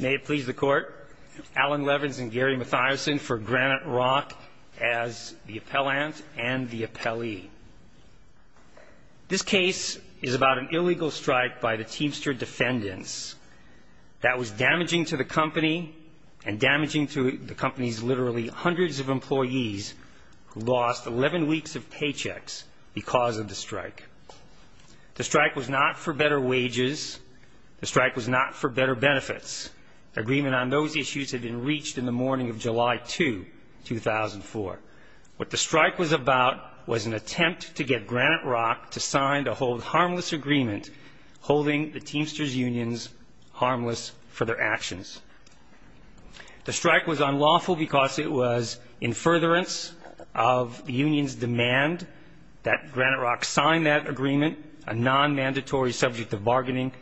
May it please the court, Alan Levens and Gary Mathiasen for Granite Rock as the appellant and the appellee. This case is about an illegal strike by the Teamster defendants that was damaging to the company and damaging to the company's literally hundreds of employees who lost 11 weeks of paychecks because of the strike. The strike was not for better wages, the strike was not for better benefits. Agreement on those issues had been reached in the morning of July 2, 2004. What the strike was about was an attempt to get Granite Rock to sign a hold harmless agreement holding the Teamsters unions harmless for their actions. The strike was unlawful because it was in furtherance of the union's demand that Granite Rock sign that agreement, a non-mandatory subject of violation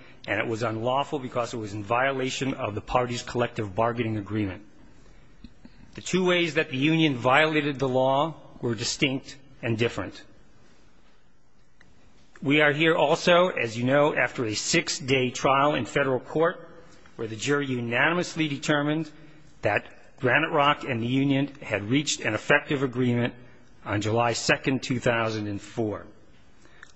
of the party's collective bargaining agreement. The two ways that the union violated the law were distinct and different. We are here also, as you know, after a six-day trial in federal court where the jury unanimously determined that Granite Rock and the union had reached an effective agreement on July 2, 2004.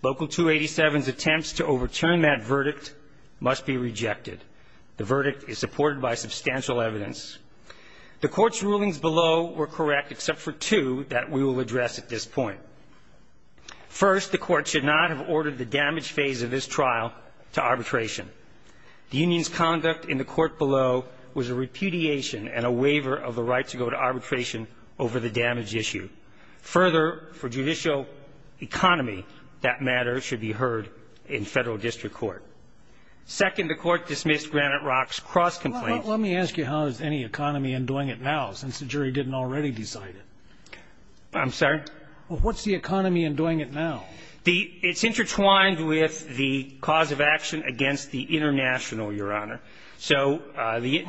Local 287's attempts to overturn that verdict must be the verdict is supported by substantial evidence. The court's rulings below were correct except for two that we will address at this point. First, the court should not have ordered the damage phase of this trial to arbitration. The union's conduct in the court below was a repudiation and a waiver of the right to go to arbitration over the damage issue. Further, for judicial economy, that matter should be heard in federal district court. Second, the court dismissed Granite Rock's cross-complaint. Let me ask you how is any economy undoing it now, since the jury didn't already decide it? I'm sorry? What's the economy undoing it now? It's intertwined with the cause of action against the international, Your Honor. So the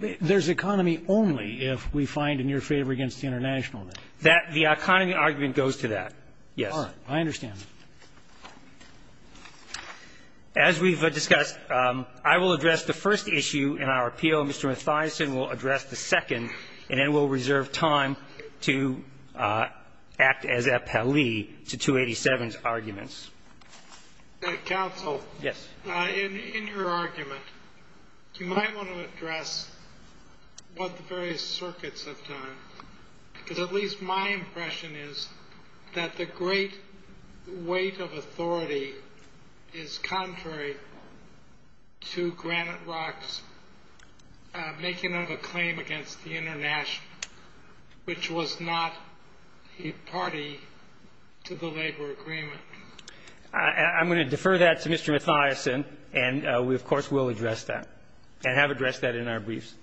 the There's economy only if we find in your favor against the international. That the economy argument goes to that. Yes. All right. I understand. As we've discussed, I will address the first issue in our appeal. Mr. Mathiasen will address the second, and then we'll reserve time to act as appellee to 287's arguments. Counsel. Yes. In your argument, you might want to address what the various circuits have done, because at least my impression is that the great weight of authority is contrary to Granite Rock's making of a claim against the international, which was not a party to the labor agreement. I'm going to defer that to Mr. Mathiasen, and we, of course, will address that and have addressed that in our briefs.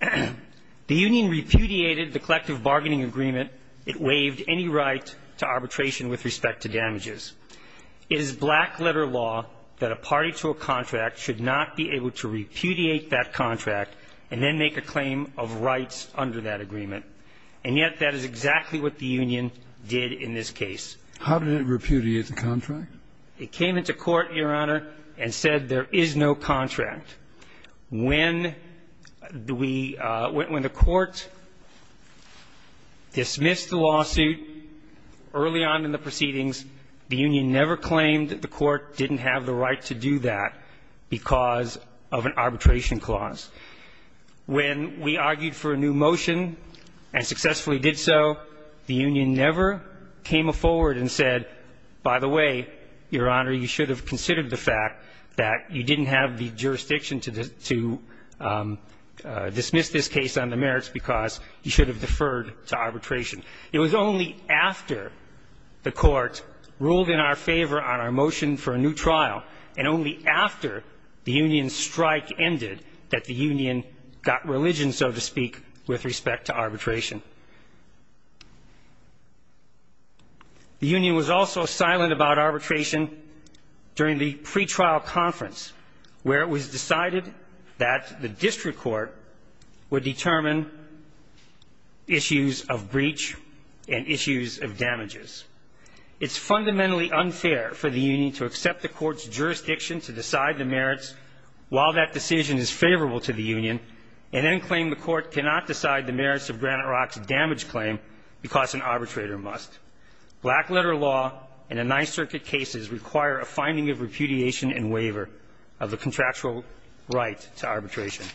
The union repudiated the collective bargaining agreement. It waived any right to arbitration with respect to damages. It is black-letter law that a party to a contract should not be able to repudiate that contract and then make a claim of rights under that agreement. And yet, that is exactly what the union did in this case. How did it repudiate the contract? It came into court, Your Honor, and said, there is no contract. When the way the court dismissed the lawsuit early on in the proceedings, the union never claimed that the court didn't have the right to do that because of an arbitration clause. When we argued for a new motion and successfully did so, the union never came forward and said, by the way, Your Honor, you should have considered the fact that you didn't have the jurisdiction to dismiss this case on the merits because you should have deferred to arbitration. It was only after the court ruled in our favor on our motion for a new trial and only after the union's strike ended that the union got religion, so to speak, with respect to arbitration. The union was also silent about arbitration during the pretrial conference, where it was decided that the district court would determine issues of breach and issues of damages. It's fundamentally unfair for the union to accept the court's jurisdiction to decide the merits while that decision is favorable to the union and then claim the court cannot decide the merits of Granite Rock's damage claim because an arbitrator must. Black letter law and the Ninth Circuit cases require a finding of repudiation and waiver of the contractual right to arbitration.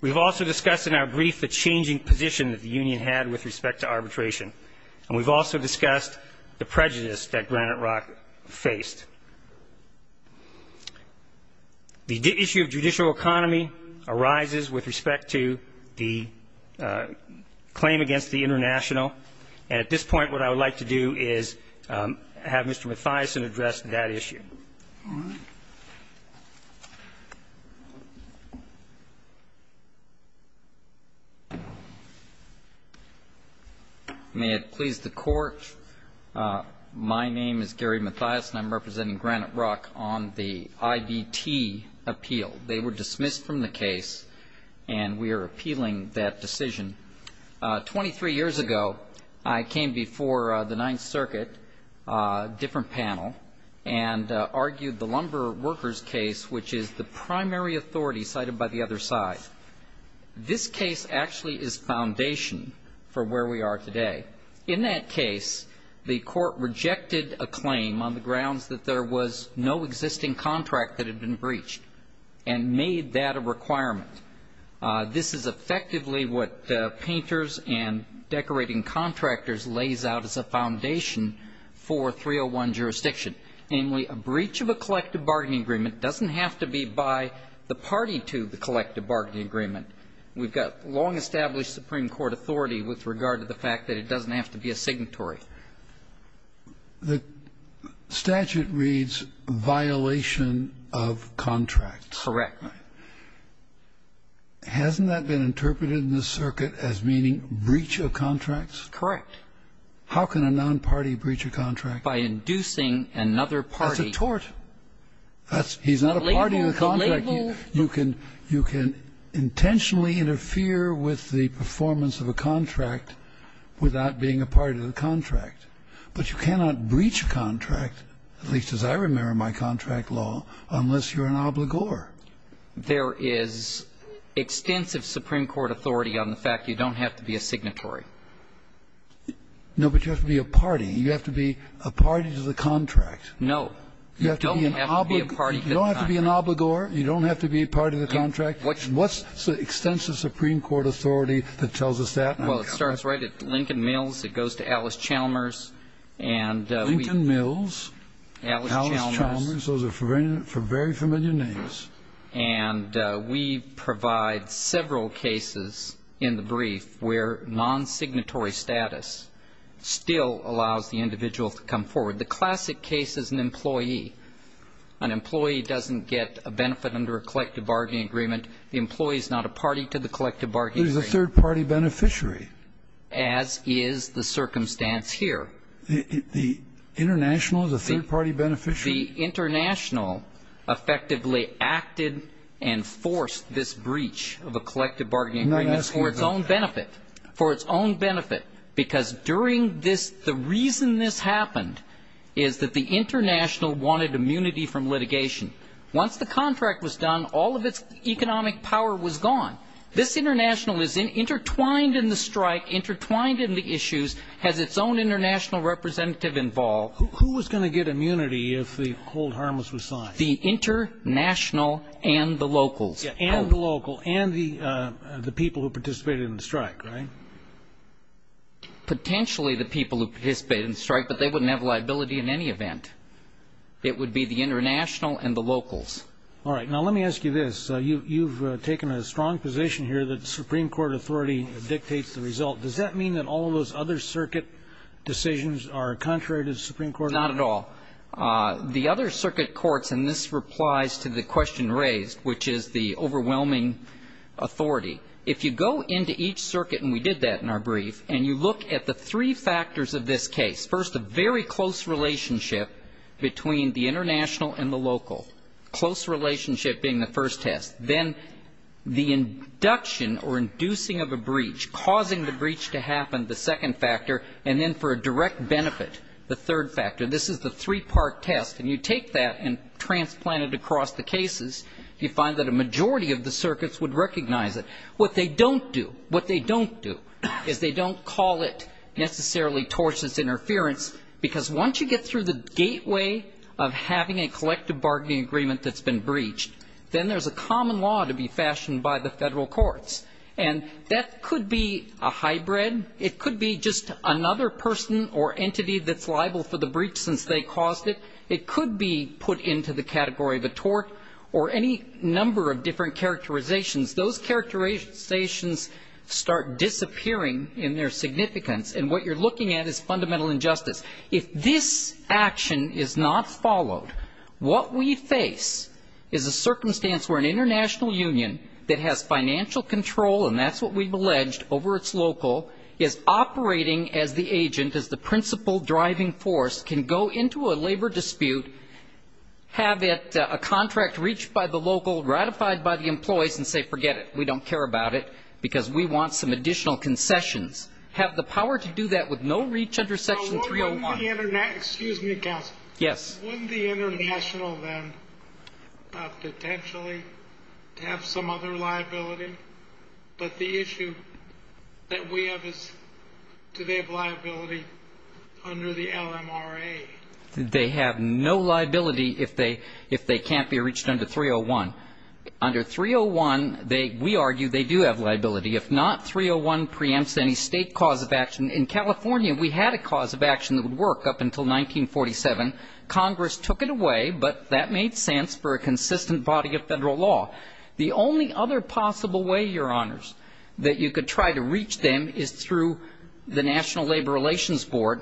We've also discussed in our brief the changing position that the union had with respect to arbitration, and we've also discussed the prejudice that Granite Rock faced. The issue of judicial autonomy arises with respect to the claim against the international, and at this point what I would like to do is have Mr. Mathiasen address that issue. May it please the Court? My name is Gary Mathiasen. I'm representing Granite Rock on the IBT appeal. They were dismissed from the case, and we are appealing that decision. Twenty-three years ago, I came before the Ninth Circuit, a different panel, and argued the lumber workers case, which is the primary authority cited by the other side. This case actually is foundation for where we are today. In that case, the Court rejected a claim on the grounds that there was no existing contract that had been breached, and made that a requirement. This is effectively what painters and decorating contractors lays out as a foundation for 301 jurisdiction, namely, a breach of a collective bargaining agreement doesn't have to be by the party to the collective bargaining agreement. We've got long-established Supreme Court authority with regard to the fact that it doesn't have to be a signatory. The statute reads violation of contracts. Correct. Hasn't that been interpreted in this circuit as meaning breach of contracts? Correct. How can a non-party breach a contract? By inducing another party. That's a tort. He's not a party to the contract. You can intentionally interfere with the performance of a contract without being a party to the contract, but you cannot breach a contract, at least as I remember my contract law, unless you're an obligor. There is extensive Supreme Court authority on the fact you don't have to be a signatory. No, but you have to be a party. You have to be a party to the contract. No. You don't have to be a party to the contract. You don't have to be an obligor. You don't have to be a party to the contract. What's the extensive Supreme Court authority that tells us that? Well, it starts right at Lincoln Mills. It goes to Alice Chalmers. Lincoln Mills. Alice Chalmers. Alice Chalmers. Those are very familiar names. And we provide several cases in the brief where non-signatory status still allows the individual to come forward. The classic case is an employee. An employee doesn't get a benefit under a collective bargaining agreement. The employee is not a party to the collective bargaining agreement. But he's a third-party beneficiary. As is the circumstance here. The international is a third-party beneficiary? The international effectively acted and forced this breach of a collective bargaining agreement for its own benefit, for its own benefit, because during this the reason this happened is that the international wanted immunity from litigation. Once the contract was done, all of its economic power was gone. This international is intertwined in the strike, intertwined in the issues, has its own international representative involved. Who was going to get immunity if the hold harmless was signed? The international and the locals. And the local and the people who participated in the strike, right? Potentially the people who participated in the strike, but they wouldn't have liability in any event. It would be the international and the locals. All right. Now let me ask you this. You've taken a strong position here that the Supreme Court authority dictates the result. Does that mean that all of those other circuit decisions are contrary to the Supreme Court? Not at all. The other circuit courts, and this replies to the question raised, which is the overwhelming authority. If you go into each circuit, and we did that in our brief, and you look at the three factors of this case. First, a very close relationship between the international and the local, close relationship being the first test. Then the induction or inducing of a breach, causing the breach to happen, the second factor. And then for a direct benefit, the third factor. This is the three-part test. And you take that and transplant it across the cases, you find that a majority of the circuits would recognize it. What they don't do, what they don't do is they don't call it necessarily tortious interference, because once you get through the gateway of having a collective bargaining agreement that's been breached, then there's a common law to be fashioned by the Federal Courts. And that could be a hybrid. It could be just another person or entity that's liable for the breach since they caused it. It could be put into the category of a tort or any number of different characterizations. Those characterizations start disappearing in their significance, and what you're looking at is fundamental injustice. If this action is not followed, what we face is a circumstance where an international union that has financial control, and that's what we've alleged, over its local, is operating as the agent, as the principal driving force, can go into a labor dispute, have a contract reached by the local, ratified by the employees, and say, forget it, we don't care about it, because we want some additional concessions, have the power to do that with no reach under Section 301. Excuse me, counsel. Yes. Wouldn't the international then potentially have some other liability? But the issue that we have is do they have liability under the LMRA? They have no liability if they can't be reached under 301. Under 301, we argue they do have liability. If not, 301 preempts any state cause of action. In California, we had a cause of action that would work up until 1947. Congress took it away, but that made sense for a consistent body of Federal law. The only other possible way, Your Honors, that you could try to reach them is through the National Labor Relations Board,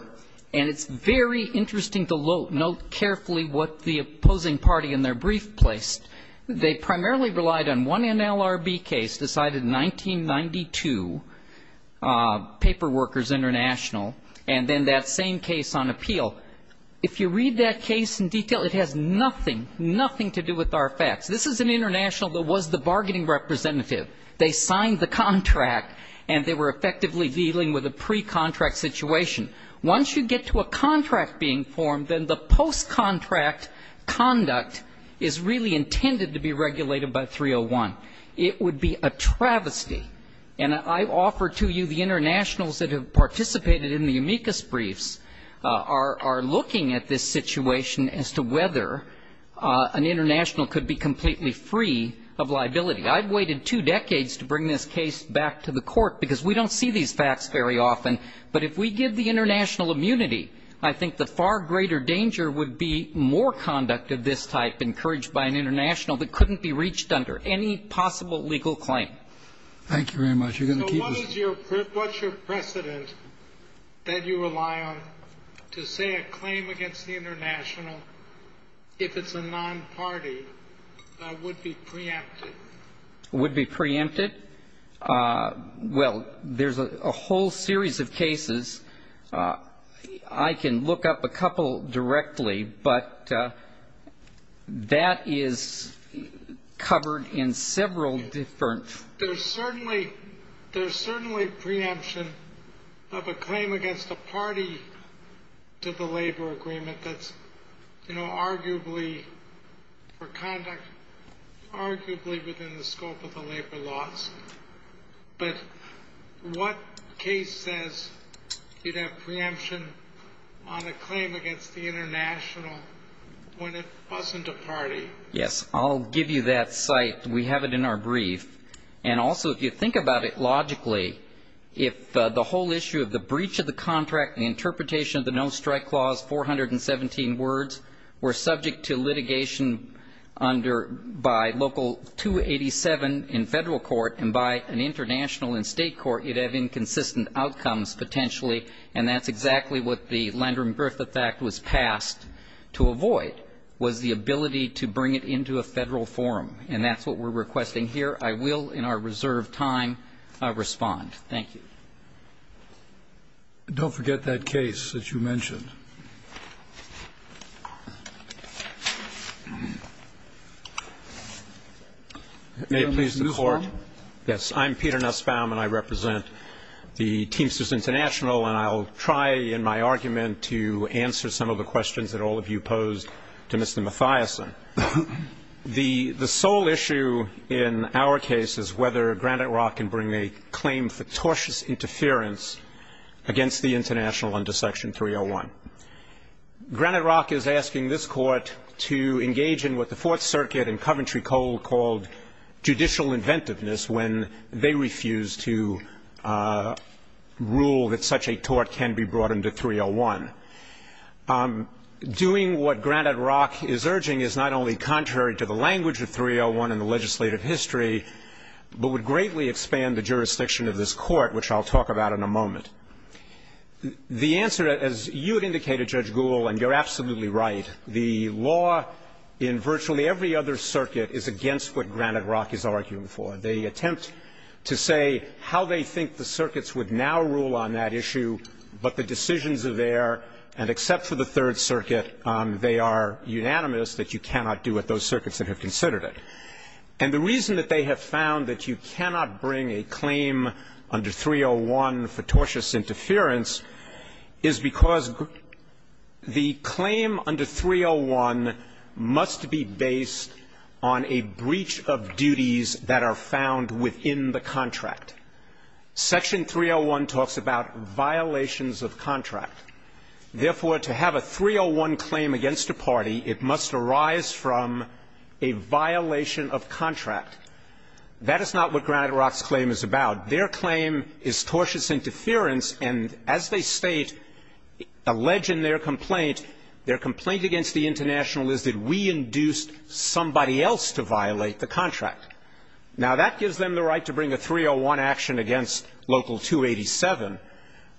and it's very interesting to note carefully what the opposing party in their brief placed. They primarily relied on one NLRB case decided in 1992, Paper Workers International, and then that same case on appeal. If you read that case in detail, it has nothing, nothing to do with our facts. This is an international that was the bargaining representative. They signed the contract, and they were effectively dealing with a pre-contract situation. Once you get to a contract being formed, then the post-contract conduct is really intended to be regulated by 301. It would be a travesty. And I offer to you the internationals that have participated in the amicus briefs are looking at this situation as to whether an international could be completely free of liability. I've waited two decades to bring this case back to the Court because we don't see these facts very often. But if we give the international immunity, I think the far greater danger would be more conduct of this type encouraged by an international that couldn't be reached under any possible legal claim. Thank you very much. You're going to keep us. What's your precedent that you rely on to say a claim against the international if it's a non-party that would be preempted? Would be preempted? Well, there's a whole series of cases. I can look up a couple directly, but that is covered in several different. There's certainly preemption of a claim against a party to the labor agreement that's, you know, arguably for conduct arguably within the scope of the labor laws. But what case says you'd have preemption on a claim against the international when it wasn't a party? Yes, I'll give you that site. We have it in our brief. And also, if you think about it logically, if the whole issue of the breach of the contract, the interpretation of the no-strike clause, 417 words, were subject to litigation under by local 287 in federal court and by an international in state court, you'd have inconsistent outcomes potentially. And that's exactly what the Landrum-Griffith Act was passed to avoid, was the ability to bring it into a federal forum. And that's what we're requesting here. I will, in our reserved time, respond. Thank you. Don't forget that case that you mentioned. May it please the Court? Yes. I'm Peter Nussbaum, and I represent the Teamsters International. And I'll try in my argument to answer some of the questions that all of you posed to Mr. Mathiasen. The sole issue in our case is whether Granite Rock can bring a claim for tortious interference against the international under Section 301. Granite Rock is asking this Court to engage in what the Fourth Circuit and Coventry Coal called judicial inventiveness when they refused to rule that such a tort can be brought under 301. Doing what Granite Rock is urging is not only contrary to the language of 301 in the legislative history, but would greatly expand the jurisdiction of this Court, which I'll talk about in a moment. The answer, as you had indicated, Judge Gould, and you're absolutely right, the law in virtually every other circuit is against what Granite Rock is arguing for. They attempt to say how they think the circuits would now rule on that issue, but the decisions are there, and except for the Third Circuit, they are unanimous that you cannot do what those circuits that have considered it. And the reason that they have found that you cannot bring a claim under 301 for tortious interference is because the claim under 301 must be based on a breach of duties that are found within the contract. Section 301 talks about violations of contract. Therefore, to have a 301 claim against a party, it must arise from a violation of contract. That is not what Granite Rock's claim is about. Their claim is tortious interference, and as they state, allege in their complaint, their complaint against the International is that we induced somebody else to violate the contract. Now, that gives them the right to bring a 301 action against Local 287,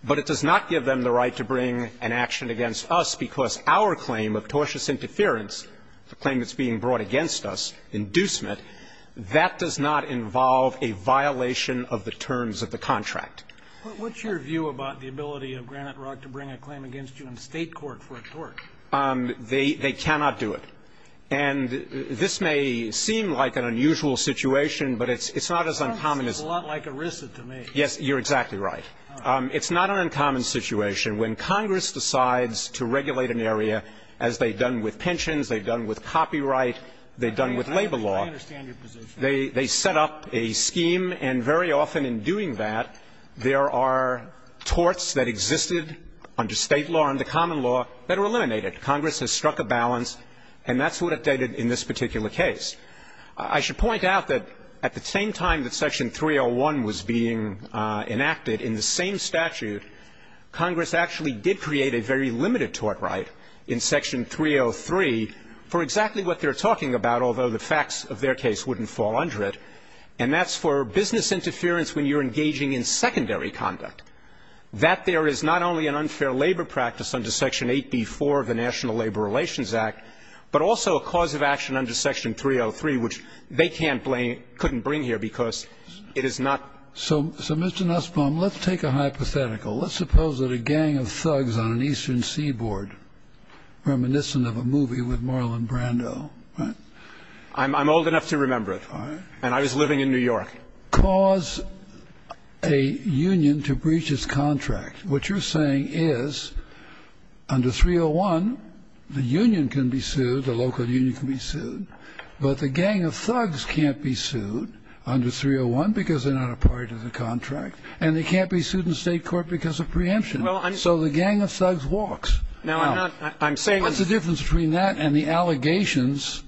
but it does not give them the right to bring an action against us because our claim of tortious interference, the claim that's being brought against us, inducement, that does not involve a violation of the terms of the contract. What's your view about the ability of Granite Rock to bring a claim against you in State court for a tort? They cannot do it. And this may seem like an unusual situation, but it's not as uncommon as the other. It seems a lot like ERISA to me. Yes, you're exactly right. It's not an uncommon situation. When Congress decides to regulate an area, as they've done with pensions, they've done with copyright, they've done with labor law. I understand your position. They set up a scheme, and very often in doing that, there are torts that existed under State law, under common law, that are eliminated. Congress has struck a balance, and that's what updated in this particular case. I should point out that at the same time that Section 301 was being enacted, in the same statute, Congress actually did create a very limited tort right in Section 303 for exactly what they're talking about, although the facts of their case wouldn't fall under it. And that's for business interference when you're engaging in secondary conduct, that there is not only an unfair labor practice under Section 8b-4 of the National Labor Relations Act, but also a cause of action under Section 303, which they can't blame or couldn't bring here because it is not. So, Mr. Nussbaum, let's take a hypothetical. Let's suppose that a gang of thugs on an eastern seaboard, reminiscent of a movie with Marlon Brando, right? I'm old enough to remember it, and I was living in New York. And they cause a union to breach its contract. What you're saying is under 301, the union can be sued, the local union can be sued, but the gang of thugs can't be sued under 301 because they're not a part of the contract, and they can't be sued in State court because of preemption. So the gang of thugs walks. Now, what's the difference between that and the allegations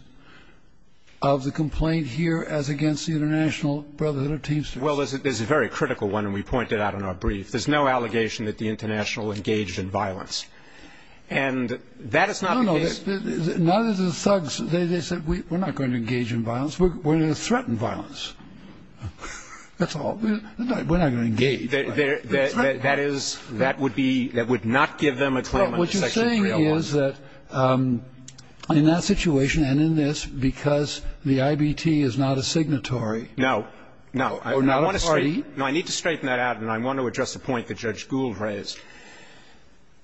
of the complaint here as against the International Brotherhood of Teamsters? Well, there's a very critical one, and we point it out in our brief. There's no allegation that the International engaged in violence. And that is not the case. No, no. Neither do the thugs. They said, we're not going to engage in violence. We're going to threaten violence. That's all. We're not going to engage. That is, that would be, that would not give them a claim under Section 301. The point is that in that situation and in this, because the IBT is not a signatory. No, no. Or not a party. No, I need to straighten that out, and I want to address the point that Judge Gould raised.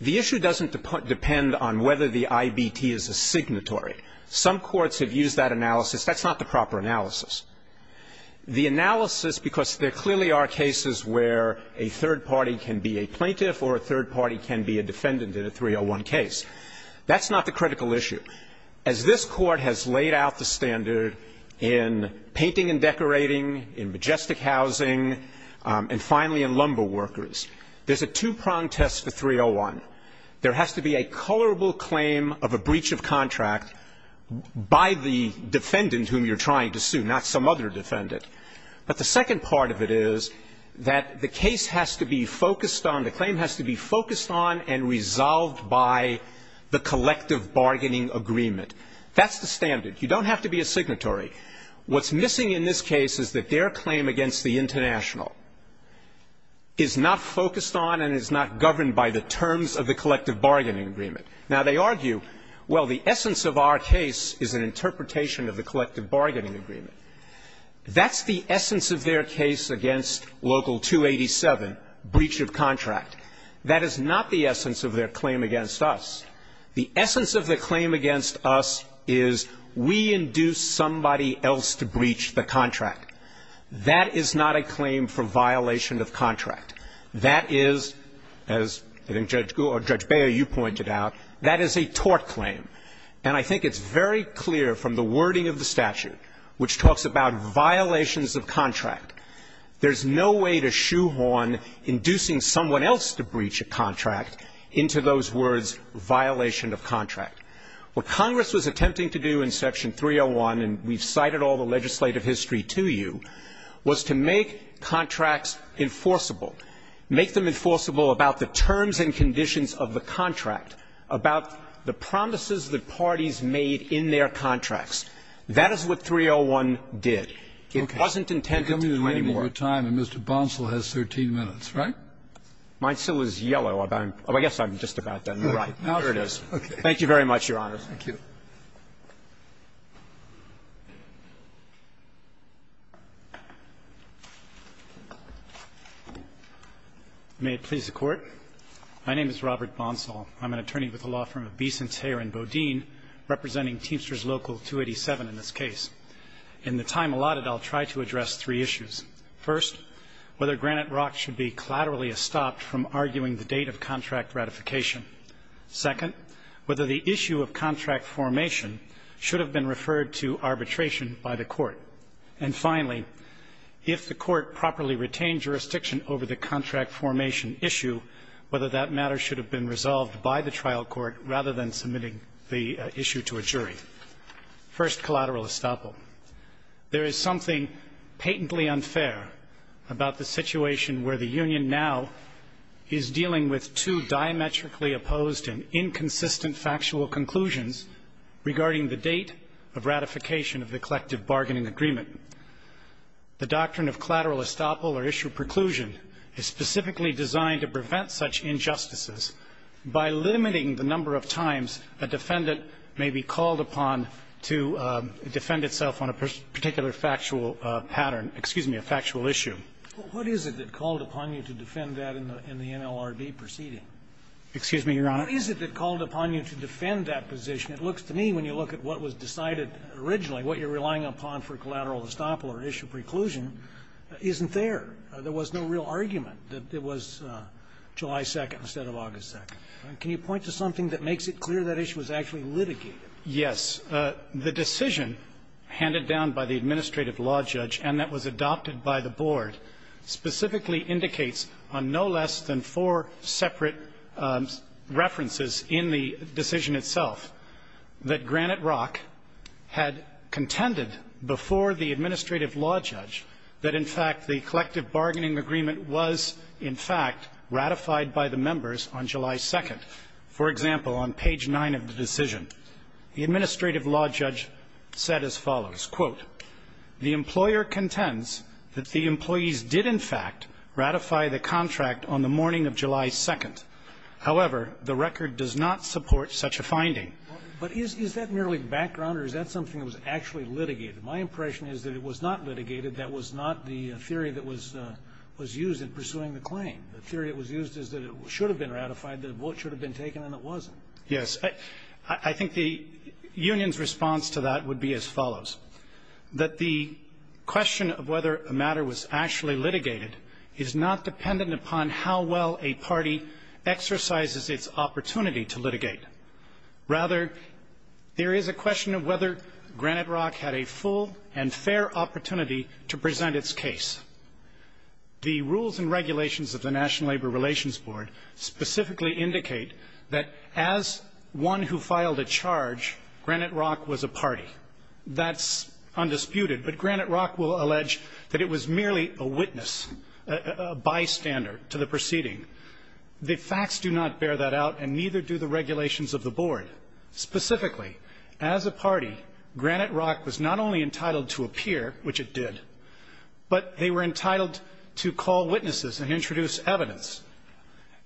The issue doesn't depend on whether the IBT is a signatory. Some courts have used that analysis. That's not the proper analysis. The analysis, because there clearly are cases where a third party can be a plaintiff or a third party can be a defendant in a 301 case. That's not the critical issue. As this Court has laid out the standard in painting and decorating, in majestic housing, and finally in lumber workers, there's a two-prong test for 301. There has to be a colorable claim of a breach of contract by the defendant whom you're trying to sue, not some other defendant. But the second part of it is that the case has to be focused on, the claim has to be focused on and resolved by the collective bargaining agreement. That's the standard. You don't have to be a signatory. What's missing in this case is that their claim against the international is not focused on and is not governed by the terms of the collective bargaining agreement. Now, they argue, well, the essence of our case is an interpretation of the collective bargaining agreement. That's the essence of their case against Local 287, breach of contract. That is not the essence of their claim against us. The essence of the claim against us is we induced somebody else to breach the contract. That is not a claim for violation of contract. That is, as I think Judge Gould or Judge Beyer, you pointed out, that is a tort claim. And I think it's very clear from the wording of the statute, which talks about violations of contract, there's no way to shoehorn inducing someone else to breach a contract into those words, violation of contract. What Congress was attempting to do in Section 301, and we've cited all the legislative history to you, was to make contracts enforceable, make them enforceable about the terms that parties made in their contracts. That is what 301 did. It wasn't intended to do any more. Kennedy, you're coming to the end of your time, and Mr. Bonsall has 13 minutes. Right? Bonsall is yellow. I guess I'm just about done. There it is. Thank you very much, Your Honors. Roberts. May it please the Court. My name is Robert Bonsall. I'm an attorney with the law firm of Beeson, Thayer & Bodine, representing Teamsters Local 287 in this case. In the time allotted, I'll try to address three issues. First, whether Granite Rock should be collaterally estopped from arguing the date of contract ratification. Second, whether the issue of contract formation should have been referred to arbitration by the Court. And finally, if the Court properly retained jurisdiction over the contract formation issue, whether that matter should have been resolved by the trial court rather than submitting the issue to a jury. First, collateral estoppel. There is something patently unfair about the situation where the union now is dealing with two diametrically opposed and inconsistent factual conclusions regarding the date of ratification of the collective bargaining agreement. The doctrine of collateral estoppel or issue preclusion is specifically designed to prevent such injustices by limiting the number of times a defendant may be called upon to defend itself on a particular factual pattern, excuse me, a factual issue. What is it that called upon you to defend that in the NLRB proceeding? Excuse me, Your Honor. What is it that called upon you to defend that position? It looks to me, when you look at what was decided originally, what you're relying upon for collateral estoppel or issue preclusion isn't there. There was no real argument that it was July 2nd instead of August 2nd. Can you point to something that makes it clear that issue was actually litigated? Yes. The decision handed down by the administrative law judge and that was adopted by the Board specifically indicates on no less than four separate references in the decision itself that Granite Rock had contended before the administrative law judge that in fact the collective bargaining agreement was in fact ratified by the members on July 2nd. For example, on page 9 of the decision, the administrative law judge said as follows, quote, the employer contends that the employees did in fact ratify the contract on the morning of July 2nd. However, the record does not support such a finding. But is that merely background or is that something that was actually litigated? My impression is that it was not litigated. That was not the theory that was used in pursuing the claim. The theory that was used is that it should have been ratified, that a vote should have been taken, and it wasn't. Yes. I think the union's response to that would be as follows. That the question of whether a matter was actually litigated is not dependent upon how well a party exercises its opportunity to litigate. Rather, there is a question of whether Granite Rock had a full and fair opportunity to present its case. The rules and regulations of the National Labor Relations Board specifically indicate that as one who filed a charge, Granite Rock was a party. That's undisputed. But Granite Rock will allege that it was merely a witness, a bystander, to the proceeding. The facts do not bear that out and neither do the regulations of the board. Specifically, as a party, Granite Rock was not only entitled to appear, which it did, but they were entitled to call witnesses and introduce evidence.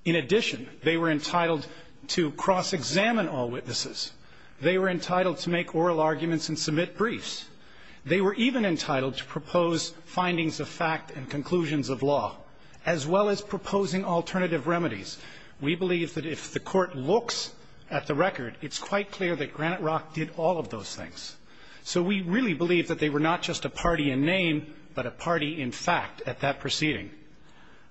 In addition, they were entitled to cross-examine all witnesses. They were entitled to make oral arguments and submit briefs. They were even entitled to propose findings of fact and conclusions of law, as well as proposing alternative remedies. We believe that if the Court looks at the record, it's quite clear that Granite Rock did all of those things. So we really believe that they were not just a party in name, but a party in fact at that proceeding.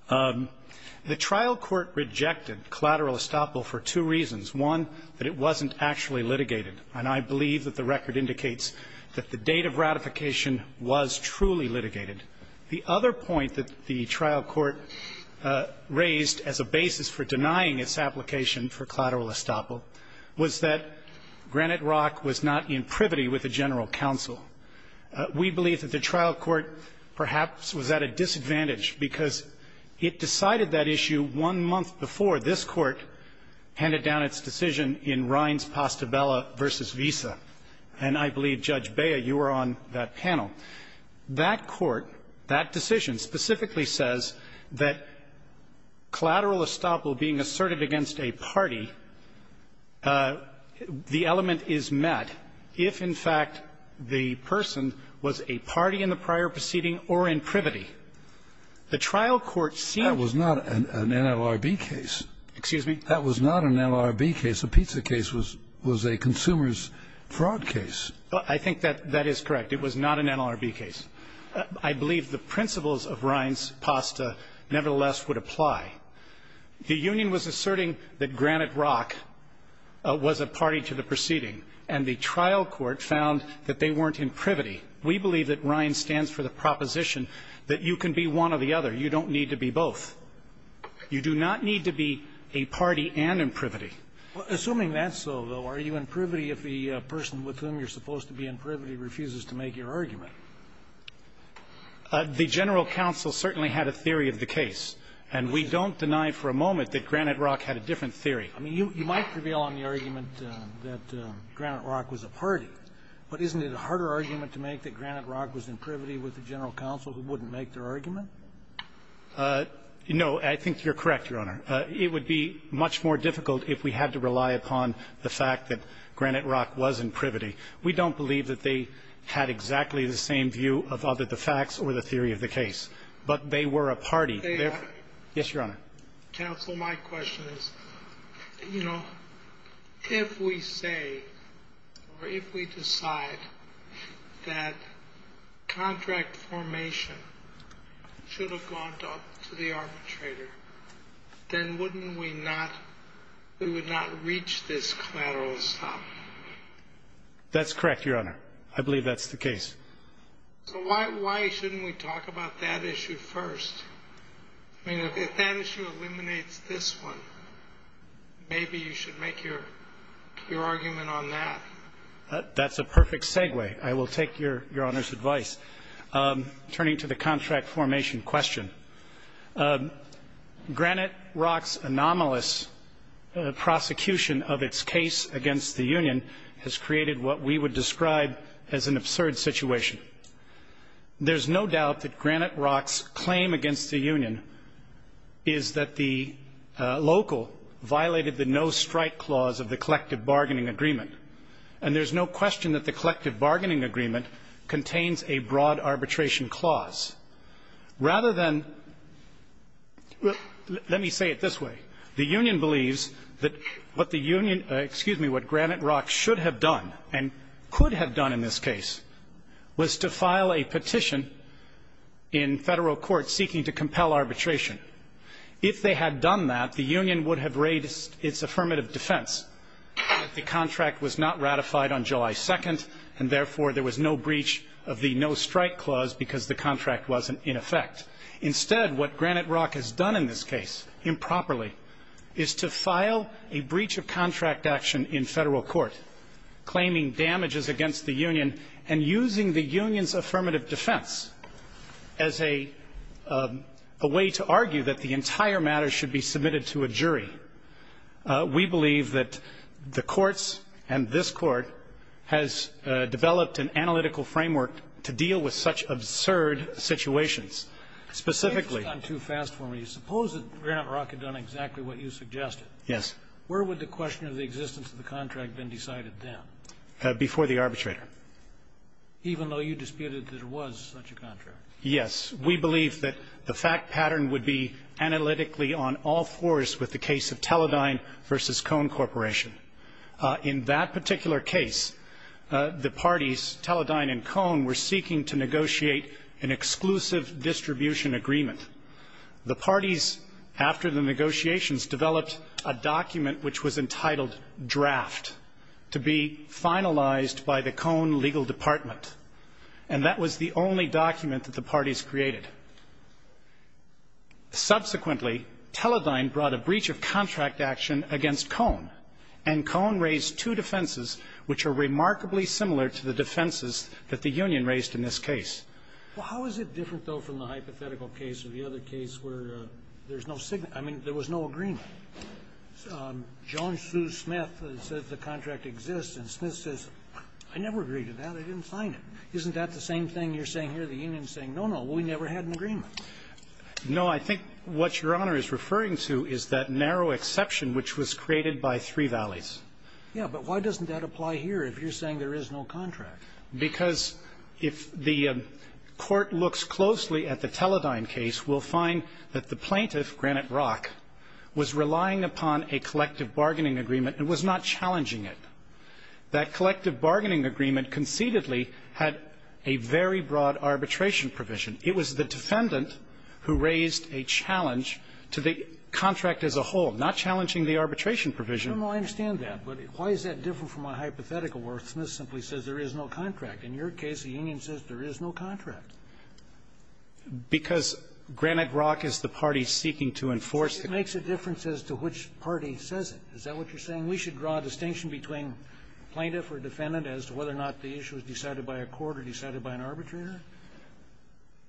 The trial court rejected collateral estoppel for two reasons. One, that it wasn't actually litigated. And I believe that the record indicates that the date of ratification was truly litigated. The other point that the trial court raised as a basis for denying its application for collateral estoppel was that Granite Rock was not in privity with the general counsel. We believe that the trial court perhaps was at a disadvantage because it decided that issue one month before this Court handed down its decision in Rines-Pastabella v. Visa. And I believe, Judge Bea, you were on that panel. That Court, that decision specifically says that collateral estoppel being asserted against a party, the element is met if, in fact, the person was a party in the prior proceeding or in privity. The trial court seemed to be in privity. Scalia. That was not an NLRB case. Brescher. Excuse me? Scalia. That was not an NLRB case. The pizza case was a consumer's fraud case. Brescher. I think that that is correct. It was not an NLRB case. I believe the principles of Rines-Pasta nevertheless would apply. The union was asserting that Granite Rock was a party to the proceeding, and the trial court found that they weren't in privity. We believe that Rines stands for the proposition that you can be one or the other. You don't need to be both. You do not need to be a party and in privity. Assuming that's so, though, are you in privity if the person with whom you're supposed to be in privity refuses to make your argument? The general counsel certainly had a theory of the case, and we don't deny for a moment that Granite Rock had a different theory. I mean, you might prevail on the argument that Granite Rock was a party, but isn't it a harder argument to make that Granite Rock was in privity with the general counsel who wouldn't make their argument? No. I think you're correct, Your Honor. It would be much more difficult if we had to rely upon the fact that Granite Rock was in privity. We don't believe that they had exactly the same view of either the facts or the theory of the case, but they were a party. Yes, Your Honor. Counsel, my question is, you know, if we say or if we decide that contract formation should have gone to the arbitrator, then wouldn't we not, we would not reach this collateral stop? That's correct, Your Honor. I believe that's the case. So why shouldn't we talk about that issue first? I mean, if that issue eliminates this one, maybe you should make your argument on that. That's a perfect segue. I will take Your Honor's advice. Turning to the contract formation question, Granite Rock's anomalous prosecution of its case against the union has created what we would describe as an absurd situation. There's no doubt that Granite Rock's claim against the union is that the local violated the no-strike clause of the collective bargaining agreement. And there's no question that the collective bargaining agreement contains a broad arbitration clause. Rather than, let me say it this way. The union believes that what the union, excuse me, what Granite Rock should have done, and could have done in this case, was to file a petition in federal court seeking to compel arbitration. If they had done that, the union would have raised its affirmative defense that the contract was not ratified on July 2nd, and therefore there was no breach of the no-strike clause because the contract wasn't in effect. Instead, what Granite Rock has done in this case improperly is to file a breach of the no-strike clause, claiming damages against the union, and using the union's affirmative defense as a way to argue that the entire matter should be submitted to a jury. We believe that the courts and this Court has developed an analytical framework to deal with such absurd situations. Specifically. Scalia. You've gone too fast for me. Suppose that Granite Rock had done exactly what you suggested. Yes. Where would the question of the existence of the contract have been decided then? Before the arbitrator. Even though you disputed that it was such a contract? Yes. We believe that the fact pattern would be analytically on all fours with the case of Teledyne v. Cone Corporation. In that particular case, the parties Teledyne and Cone were seeking to negotiate an exclusive distribution agreement. The parties, after the negotiations, developed a document which was entitled draft to be finalized by the Cone legal department, and that was the only document that the parties created. Subsequently, Teledyne brought a breach of contract action against Cone, and Cone raised two defenses which are remarkably similar to the defenses that the union raised in this case. Well, how is it different, though, from the hypothetical case or the other case where there's no signal? I mean, there was no agreement. John Sue Smith says the contract exists, and Smith says, I never agreed to that. I didn't sign it. Isn't that the same thing you're saying here? The union is saying, no, no, we never had an agreement. No. I think what Your Honor is referring to is that narrow exception which was created by Three Valleys. But why doesn't that apply here if you're saying there is no contract? Because if the court looks closely at the Teledyne case, we'll find that the plaintiff, Granite Rock, was relying upon a collective bargaining agreement and was not challenging it. That collective bargaining agreement concededly had a very broad arbitration provision. It was the defendant who raised a challenge to the contract as a whole, not challenging the arbitration provision. I don't know. I understand that. But why is that different from a hypothetical where Smith simply says there is no contract? In your case, the union says there is no contract. Because Granite Rock is the party seeking to enforce it. So it makes a difference as to which party says it. Is that what you're saying? We should draw a distinction between plaintiff or defendant as to whether or not the issue is decided by a court or decided by an arbitrator?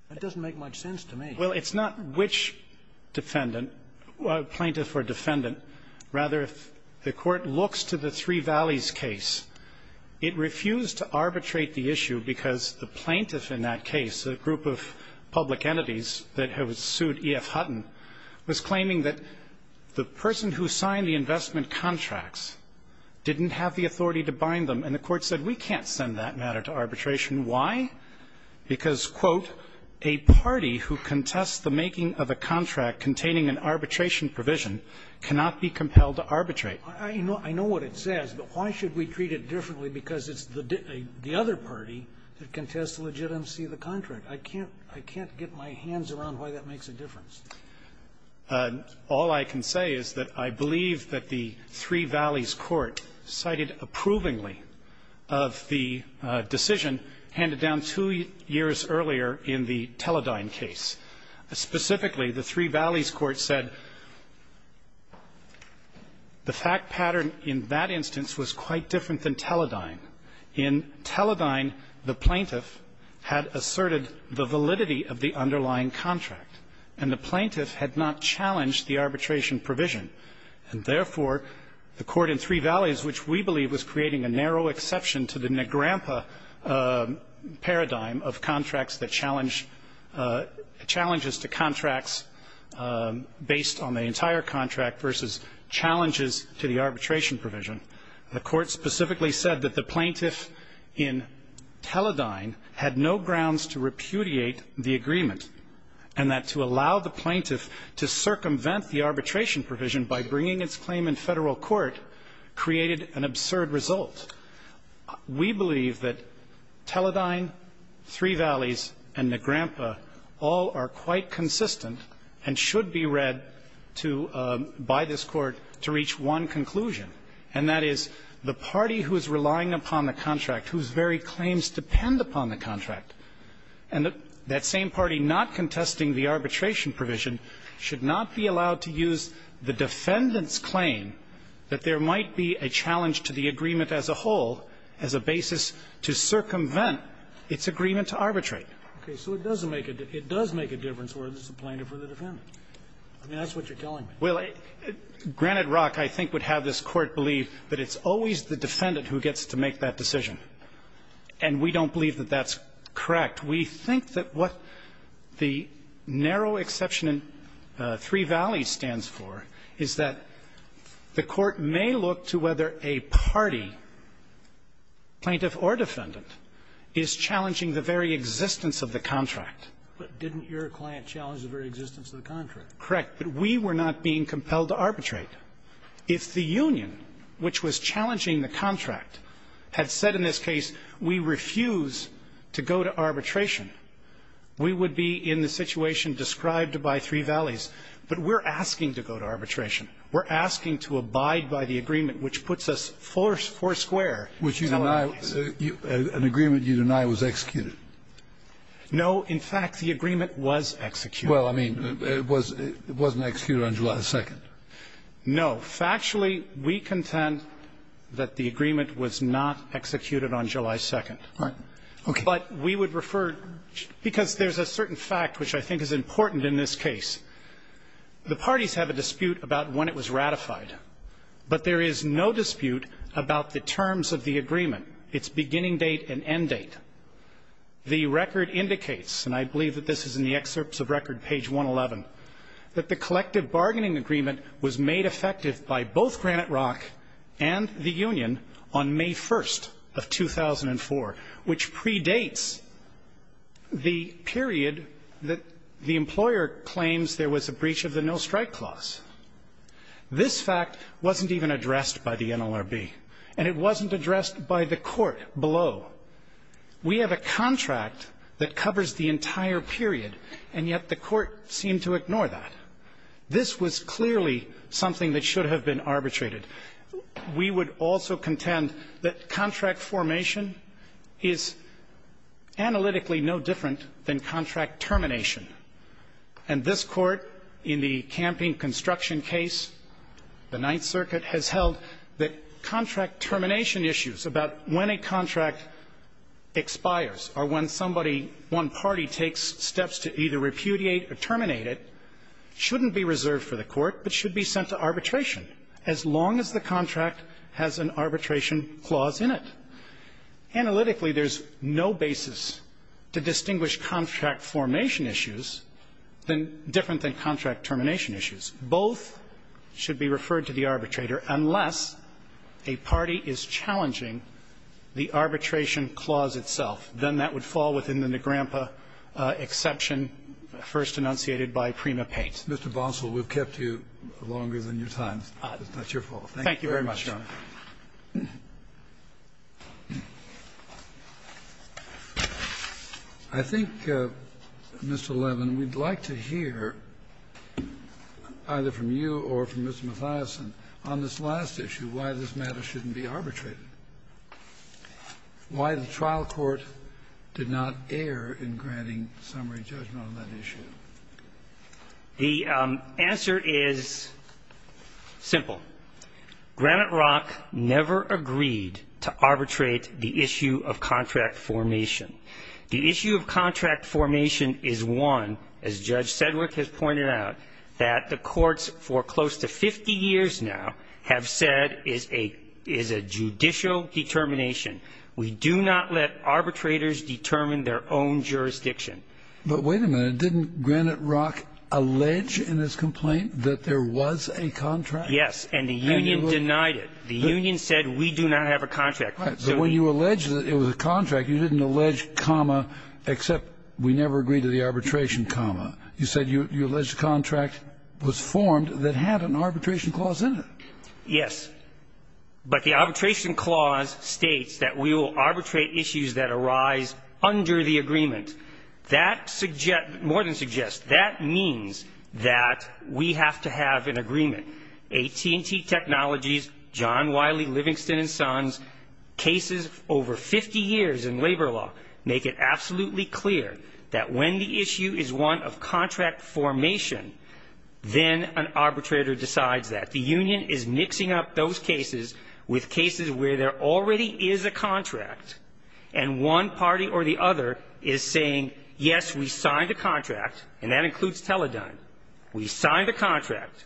That doesn't make much sense to me. Well, it's not which defendant, plaintiff or defendant. Rather, if the court looks to the Three Valleys case, it refused to arbitrate the issue because the plaintiff in that case, a group of public entities that have sued E.F. Hutton, was claiming that the person who signed the investment contracts didn't have the authority to bind them. And the court said we can't send that matter to arbitration. Why? Because, quote, a party who contests the making of a contract containing an arbitration provision cannot be compelled to arbitrate. I know what it says. But why should we treat it differently because it's the other party that contests the legitimacy of the contract? I can't get my hands around why that makes a difference. All I can say is that I believe that the Three Valleys court cited approvingly of the decision handed down two years earlier in the Teledyne case. Specifically, the Three Valleys court said the fact pattern in that instance was quite different than Teledyne. In Teledyne, the plaintiff had asserted the validity of the underlying contract, and the plaintiff had not challenged the arbitration provision. And therefore, the court in Three Valleys, which we believe was creating a narrow exception to the Negrampa paradigm of contracts that challenge the challenges to contracts based on the entire contract versus challenges to the arbitration provision, the court specifically said that the plaintiff in Teledyne had no grounds to repudiate the agreement and that to allow the plaintiff to circumvent the arbitration provision by bringing its claim in Federal court created an absurd result. We believe that Teledyne, Three Valleys, and Negrampa all are quite consistent and should be read to by this Court to reach one conclusion, and that is the party who is relying upon the contract, whose very claims depend upon the contract, and that same party not contesting the arbitration provision should not be allowed to use the defendant's claim that there might be a challenge to the agreement as a whole as a basis to circumvent its agreement to arbitrate. It does make a difference whether it's the plaintiff or the defendant. I mean, that's what you're telling me. Well, granted, Rock, I think, would have this Court believe that it's always the defendant who gets to make that decision, and we don't believe that that's correct. We think that what the narrow exception in Three Valleys stands for is that the court may look to whether a party, plaintiff or defendant, is challenging the very existence of the contract. But didn't your client challenge the very existence of the contract? Correct. But we were not being compelled to arbitrate. If the union, which was challenging the contract, had said in this case, we refuse to go to arbitration, we would be in the situation described by Three Valleys. But we're asking to go to arbitration. We're asking to abide by the agreement, which puts us four square in our case. Which you deny an agreement you deny was executed. No. In fact, the agreement was executed. Well, I mean, it wasn't executed on July 2nd. No. Factually, we contend that the agreement was not executed on July 2nd. All right. Okay. But we would refer to the fact, because there's a certain fact which I think is important in this case. The parties have a dispute about when it was ratified, but there is no dispute about the terms of the agreement, its beginning date and end date. That the collective bargaining agreement was made effective by both Granite Rock and the union on May 1st of 2004, which predates the period that the employer claims there was a breach of the no-strike clause. This fact wasn't even addressed by the NLRB, and it wasn't addressed by the court below. We have a contract that covers the entire period, and yet the court seemed to ignore that. This was clearly something that should have been arbitrated. We would also contend that contract formation is analytically no different than contract termination. And this Court, in the Camping Construction case, the Ninth Circuit, has held that when a contract expires or when somebody, one party takes steps to either repudiate or terminate it, it shouldn't be reserved for the court but should be sent to arbitration, as long as the contract has an arbitration clause in it. Analytically, there's no basis to distinguish contract formation issues different than contract termination issues. Both should be referred to the arbitrator, unless a party is challenging the arbitration clause itself. Then that would fall within the Negrempa exception first enunciated by Prima Pate. Kennedy. Mr. Bonsall, we've kept you longer than your time. It's not your fault. Thank you very much, Your Honor. I think, Mr. Levin, we'd like to hear either from you or from Mr. Mathiasson on this last issue, why this matter shouldn't be arbitrated, why the trial court did not err in granting summary judgment on that issue. The answer is simple. Granite Rock never agreed to arbitrate the issue of contract formation. The issue of contract formation is one, as Judge Sedgwick has pointed out, that the courts for close to 50 years now have said is a judicial determination. We do not let arbitrators determine their own jurisdiction. But wait a minute. Didn't Granite Rock allege in his complaint that there was a contract? Yes. And the union denied it. The union said we do not have a contract. Right. So when you allege that it was a contract, you didn't allege comma except we never agreed to the arbitration comma. You said you allege the contract was formed that had an arbitration clause in it. Yes. But the arbitration clause states that we will arbitrate issues that arise under the agreement. That suggests, more than suggests, that means that we have to have an agreement. AT&T Technologies, John Wiley, Livingston & Sons, cases over 50 years in labor law make it absolutely clear that when the issue is one of contract formation, then an arbitrator decides that. The union is mixing up those cases with cases where there already is a contract and one party or the other is saying, yes, we signed a contract, and that includes Teledyne. We signed a contract.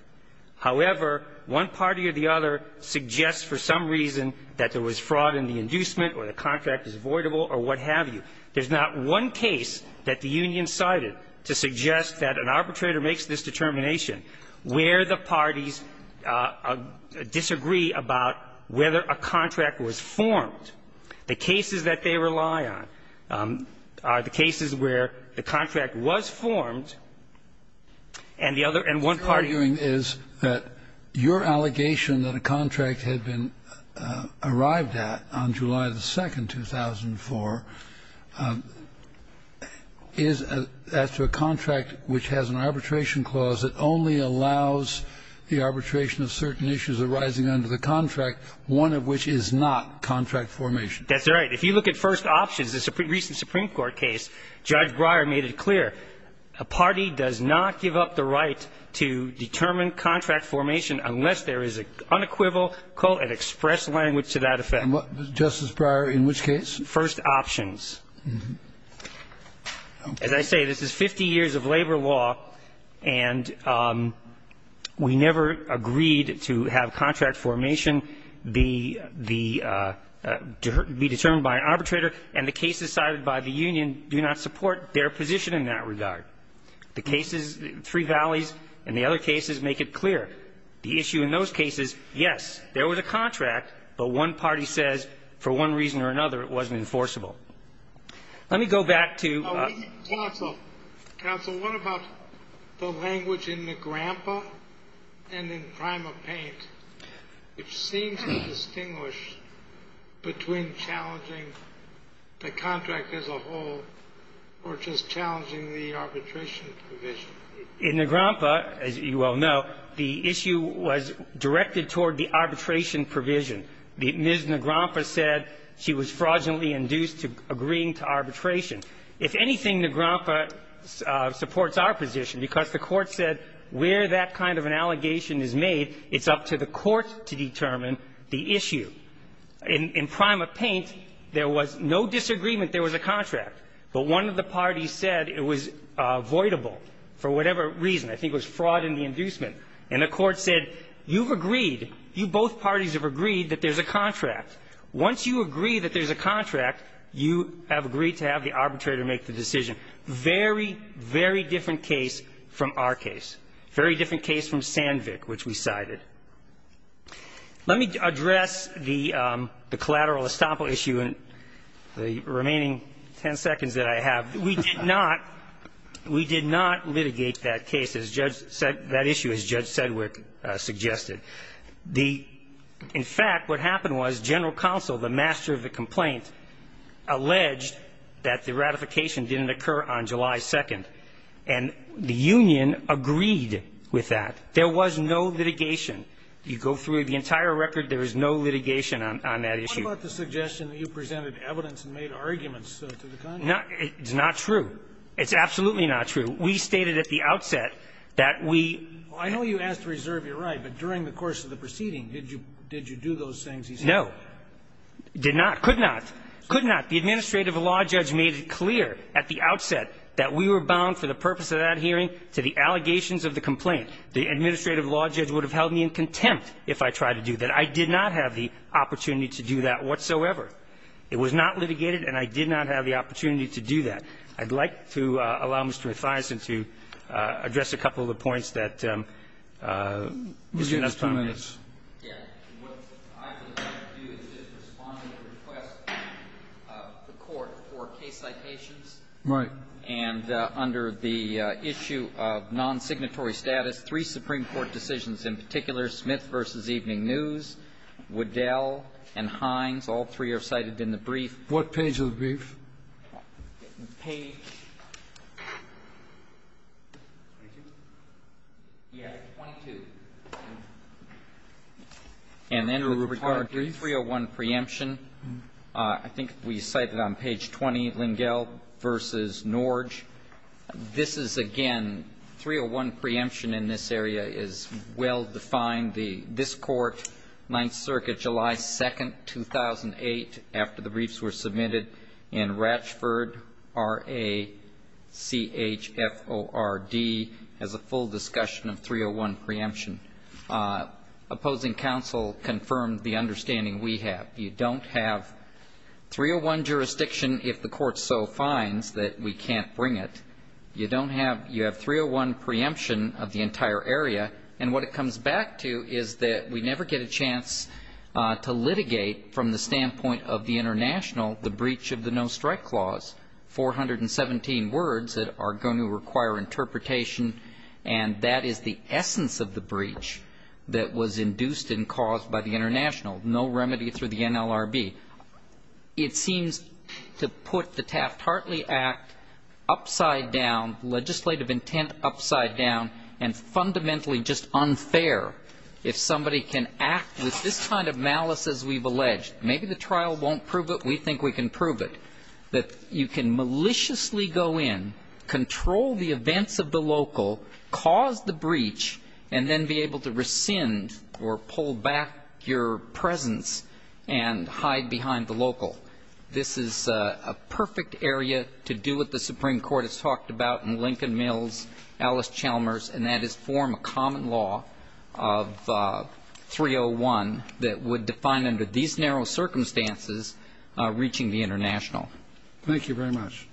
However, one party or the other suggests for some reason that there was fraud in the inducement or the contract is voidable or what have you. There's not one case that the union cited to suggest that an arbitrator makes this determination where the parties disagree about whether a contract was formed. The cases that they rely on are the cases where the contract was formed and the other and one party. Kennedy, your allegation that a contract had been arrived at on July 2, 2004, is as to a contract which has an arbitration clause that only allows the arbitration of certain issues arising under the contract, one of which is not contract formation. That's right. If you look at first options, the recent Supreme Court case, Judge Breyer made it clear. A party does not give up the right to determine contract formation unless there is an unequivocal and express language to that effect. Justice Breyer, in which case? First options. As I say, this is 50 years of labor law, and we never agreed to have contract formation be determined by an arbitrator, and the cases cited by the union do not support their position in that regard. The cases, Three Valleys and the other cases, make it clear. The issue in those cases, yes, there was a contract, but one party says for one reason or another it wasn't enforceable. Let me go back to ---- Counsel, what about the language in Negrampa and in PrimaPaint, which seems to distinguish between challenging the contract as a whole or just challenging the arbitration provision? In Negrampa, as you well know, the issue was directed toward the arbitration provision. Ms. Negrampa said she was fraudulently induced to agreeing to arbitration. If anything, Negrampa supports our position because the Court said where that kind of an allegation is made, it's up to the Court to determine the issue. In PrimaPaint, there was no disagreement there was a contract, but one of the parties said it was voidable for whatever reason. I think it was fraud in the inducement. And the Court said you've agreed, you both parties have agreed that there's a contract. Once you agree that there's a contract, you have agreed to have the arbitrator make the decision. Very, very different case from our case. Very different case from Sandvik, which we cited. Let me address the collateral estoppel issue in the remaining ten seconds that I have. We did not litigate that case, that issue, as Judge Sedgwick suggested. In fact, what happened was general counsel, the master of the complaint, alleged that the ratification didn't occur on July 2nd, and the union agreed with that. There was no litigation. You go through the entire record, there was no litigation on that issue. What about the suggestion that you presented evidence and made arguments to the contract? It's not true. It's absolutely not true. We stated at the outset that we – Well, I know you asked to reserve your right, but during the course of the proceeding, did you do those things he said? No. Did not. Could not. Could not. The administrative law judge made it clear at the outset that we were bound for the purpose of that hearing to the allegations of the complaint. The administrative law judge would have held me in contempt if I tried to do that. I did not have the opportunity to do that whatsoever. It was not litigated, and I did not have the opportunity to do that. I'd like to allow Mr. Mathiasen to address a couple of the points that Mr. Mathiasen Mr. Mathiasen. Yes. What I would like to do is just respond to the request of the Court for case citations. Right. And under the issue of nonsignatory status, three Supreme Court decisions in particular, Smith v. Evening News, Waddell, and Hines, all three are cited in the brief. What page of the brief? Page 22. And then with regard to 301 preemption, I think we cited on page 20, Lingell v. Norge. This is, again, 301 preemption in this area is well defined. This Court, Ninth Circuit, July 2, 2008, after the briefs were submitted in Ratchford RACHFORD has a full discussion of 301 preemption. Opposing counsel confirmed the understanding we have. You don't have 301 jurisdiction if the Court so finds that we can't bring it. You don't have you have 301 preemption of the entire area. And what it comes back to is that we never get a chance to litigate from the standpoint of the international the breach of the no-strike clause, 417 words that are going to require interpretation. And that is the essence of the breach that was induced and caused by the international, no remedy through the NLRB. It seems to put the Taft-Hartley Act upside down, legislative intent upside down, and fundamentally just unfair if somebody can act with this kind of malice, as we've alleged. Maybe the trial won't prove it. We think we can prove it. That you can maliciously go in, control the events of the local, cause the breach, and then be able to rescind or pull back your presence and hide behind the local. This is a perfect area to do what the Supreme Court has talked about in Lincoln Mills, Alice Chalmers, and that is form a common law of 301 that would define under these narrow circumstances reaching the international. Thank you very much.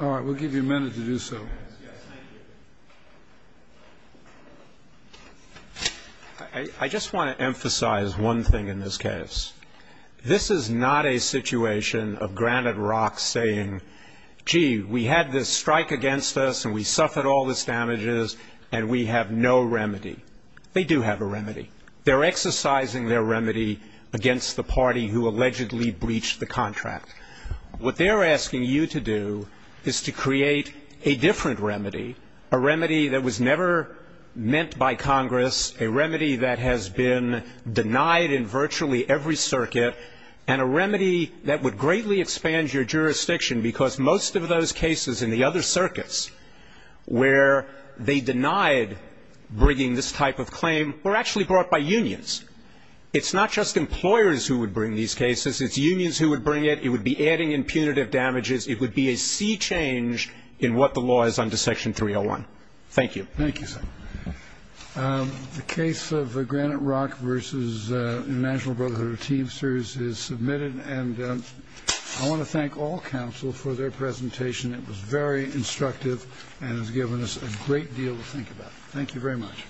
All right. We'll give you a minute to do so. I just want to emphasize one thing in this case. This is not a situation of Granite Rock saying, gee, we had this strike against us and we suffered all these damages and we have no remedy. They do have a remedy. They're exercising their remedy against the party who allegedly breached the contract. What they're asking you to do is to create a different remedy, a remedy that was never meant by Congress, a remedy that has been denied in virtually every circuit, and a remedy that would greatly expand your jurisdiction, because most of those cases in the other circuits where they denied bringing this type of claim were actually brought by unions. It's not just employers who would bring these cases. It's unions who would bring it. It would be adding impunitive damages. It would be a sea change in what the law is under Section 301. Thank you. Thank you, sir. The case of Granite Rock v. International Brotherhood of Teamsters is submitted, and I want to thank all counsel for their presentation. It was very instructive and has given us a great deal to think about. Thank you very much.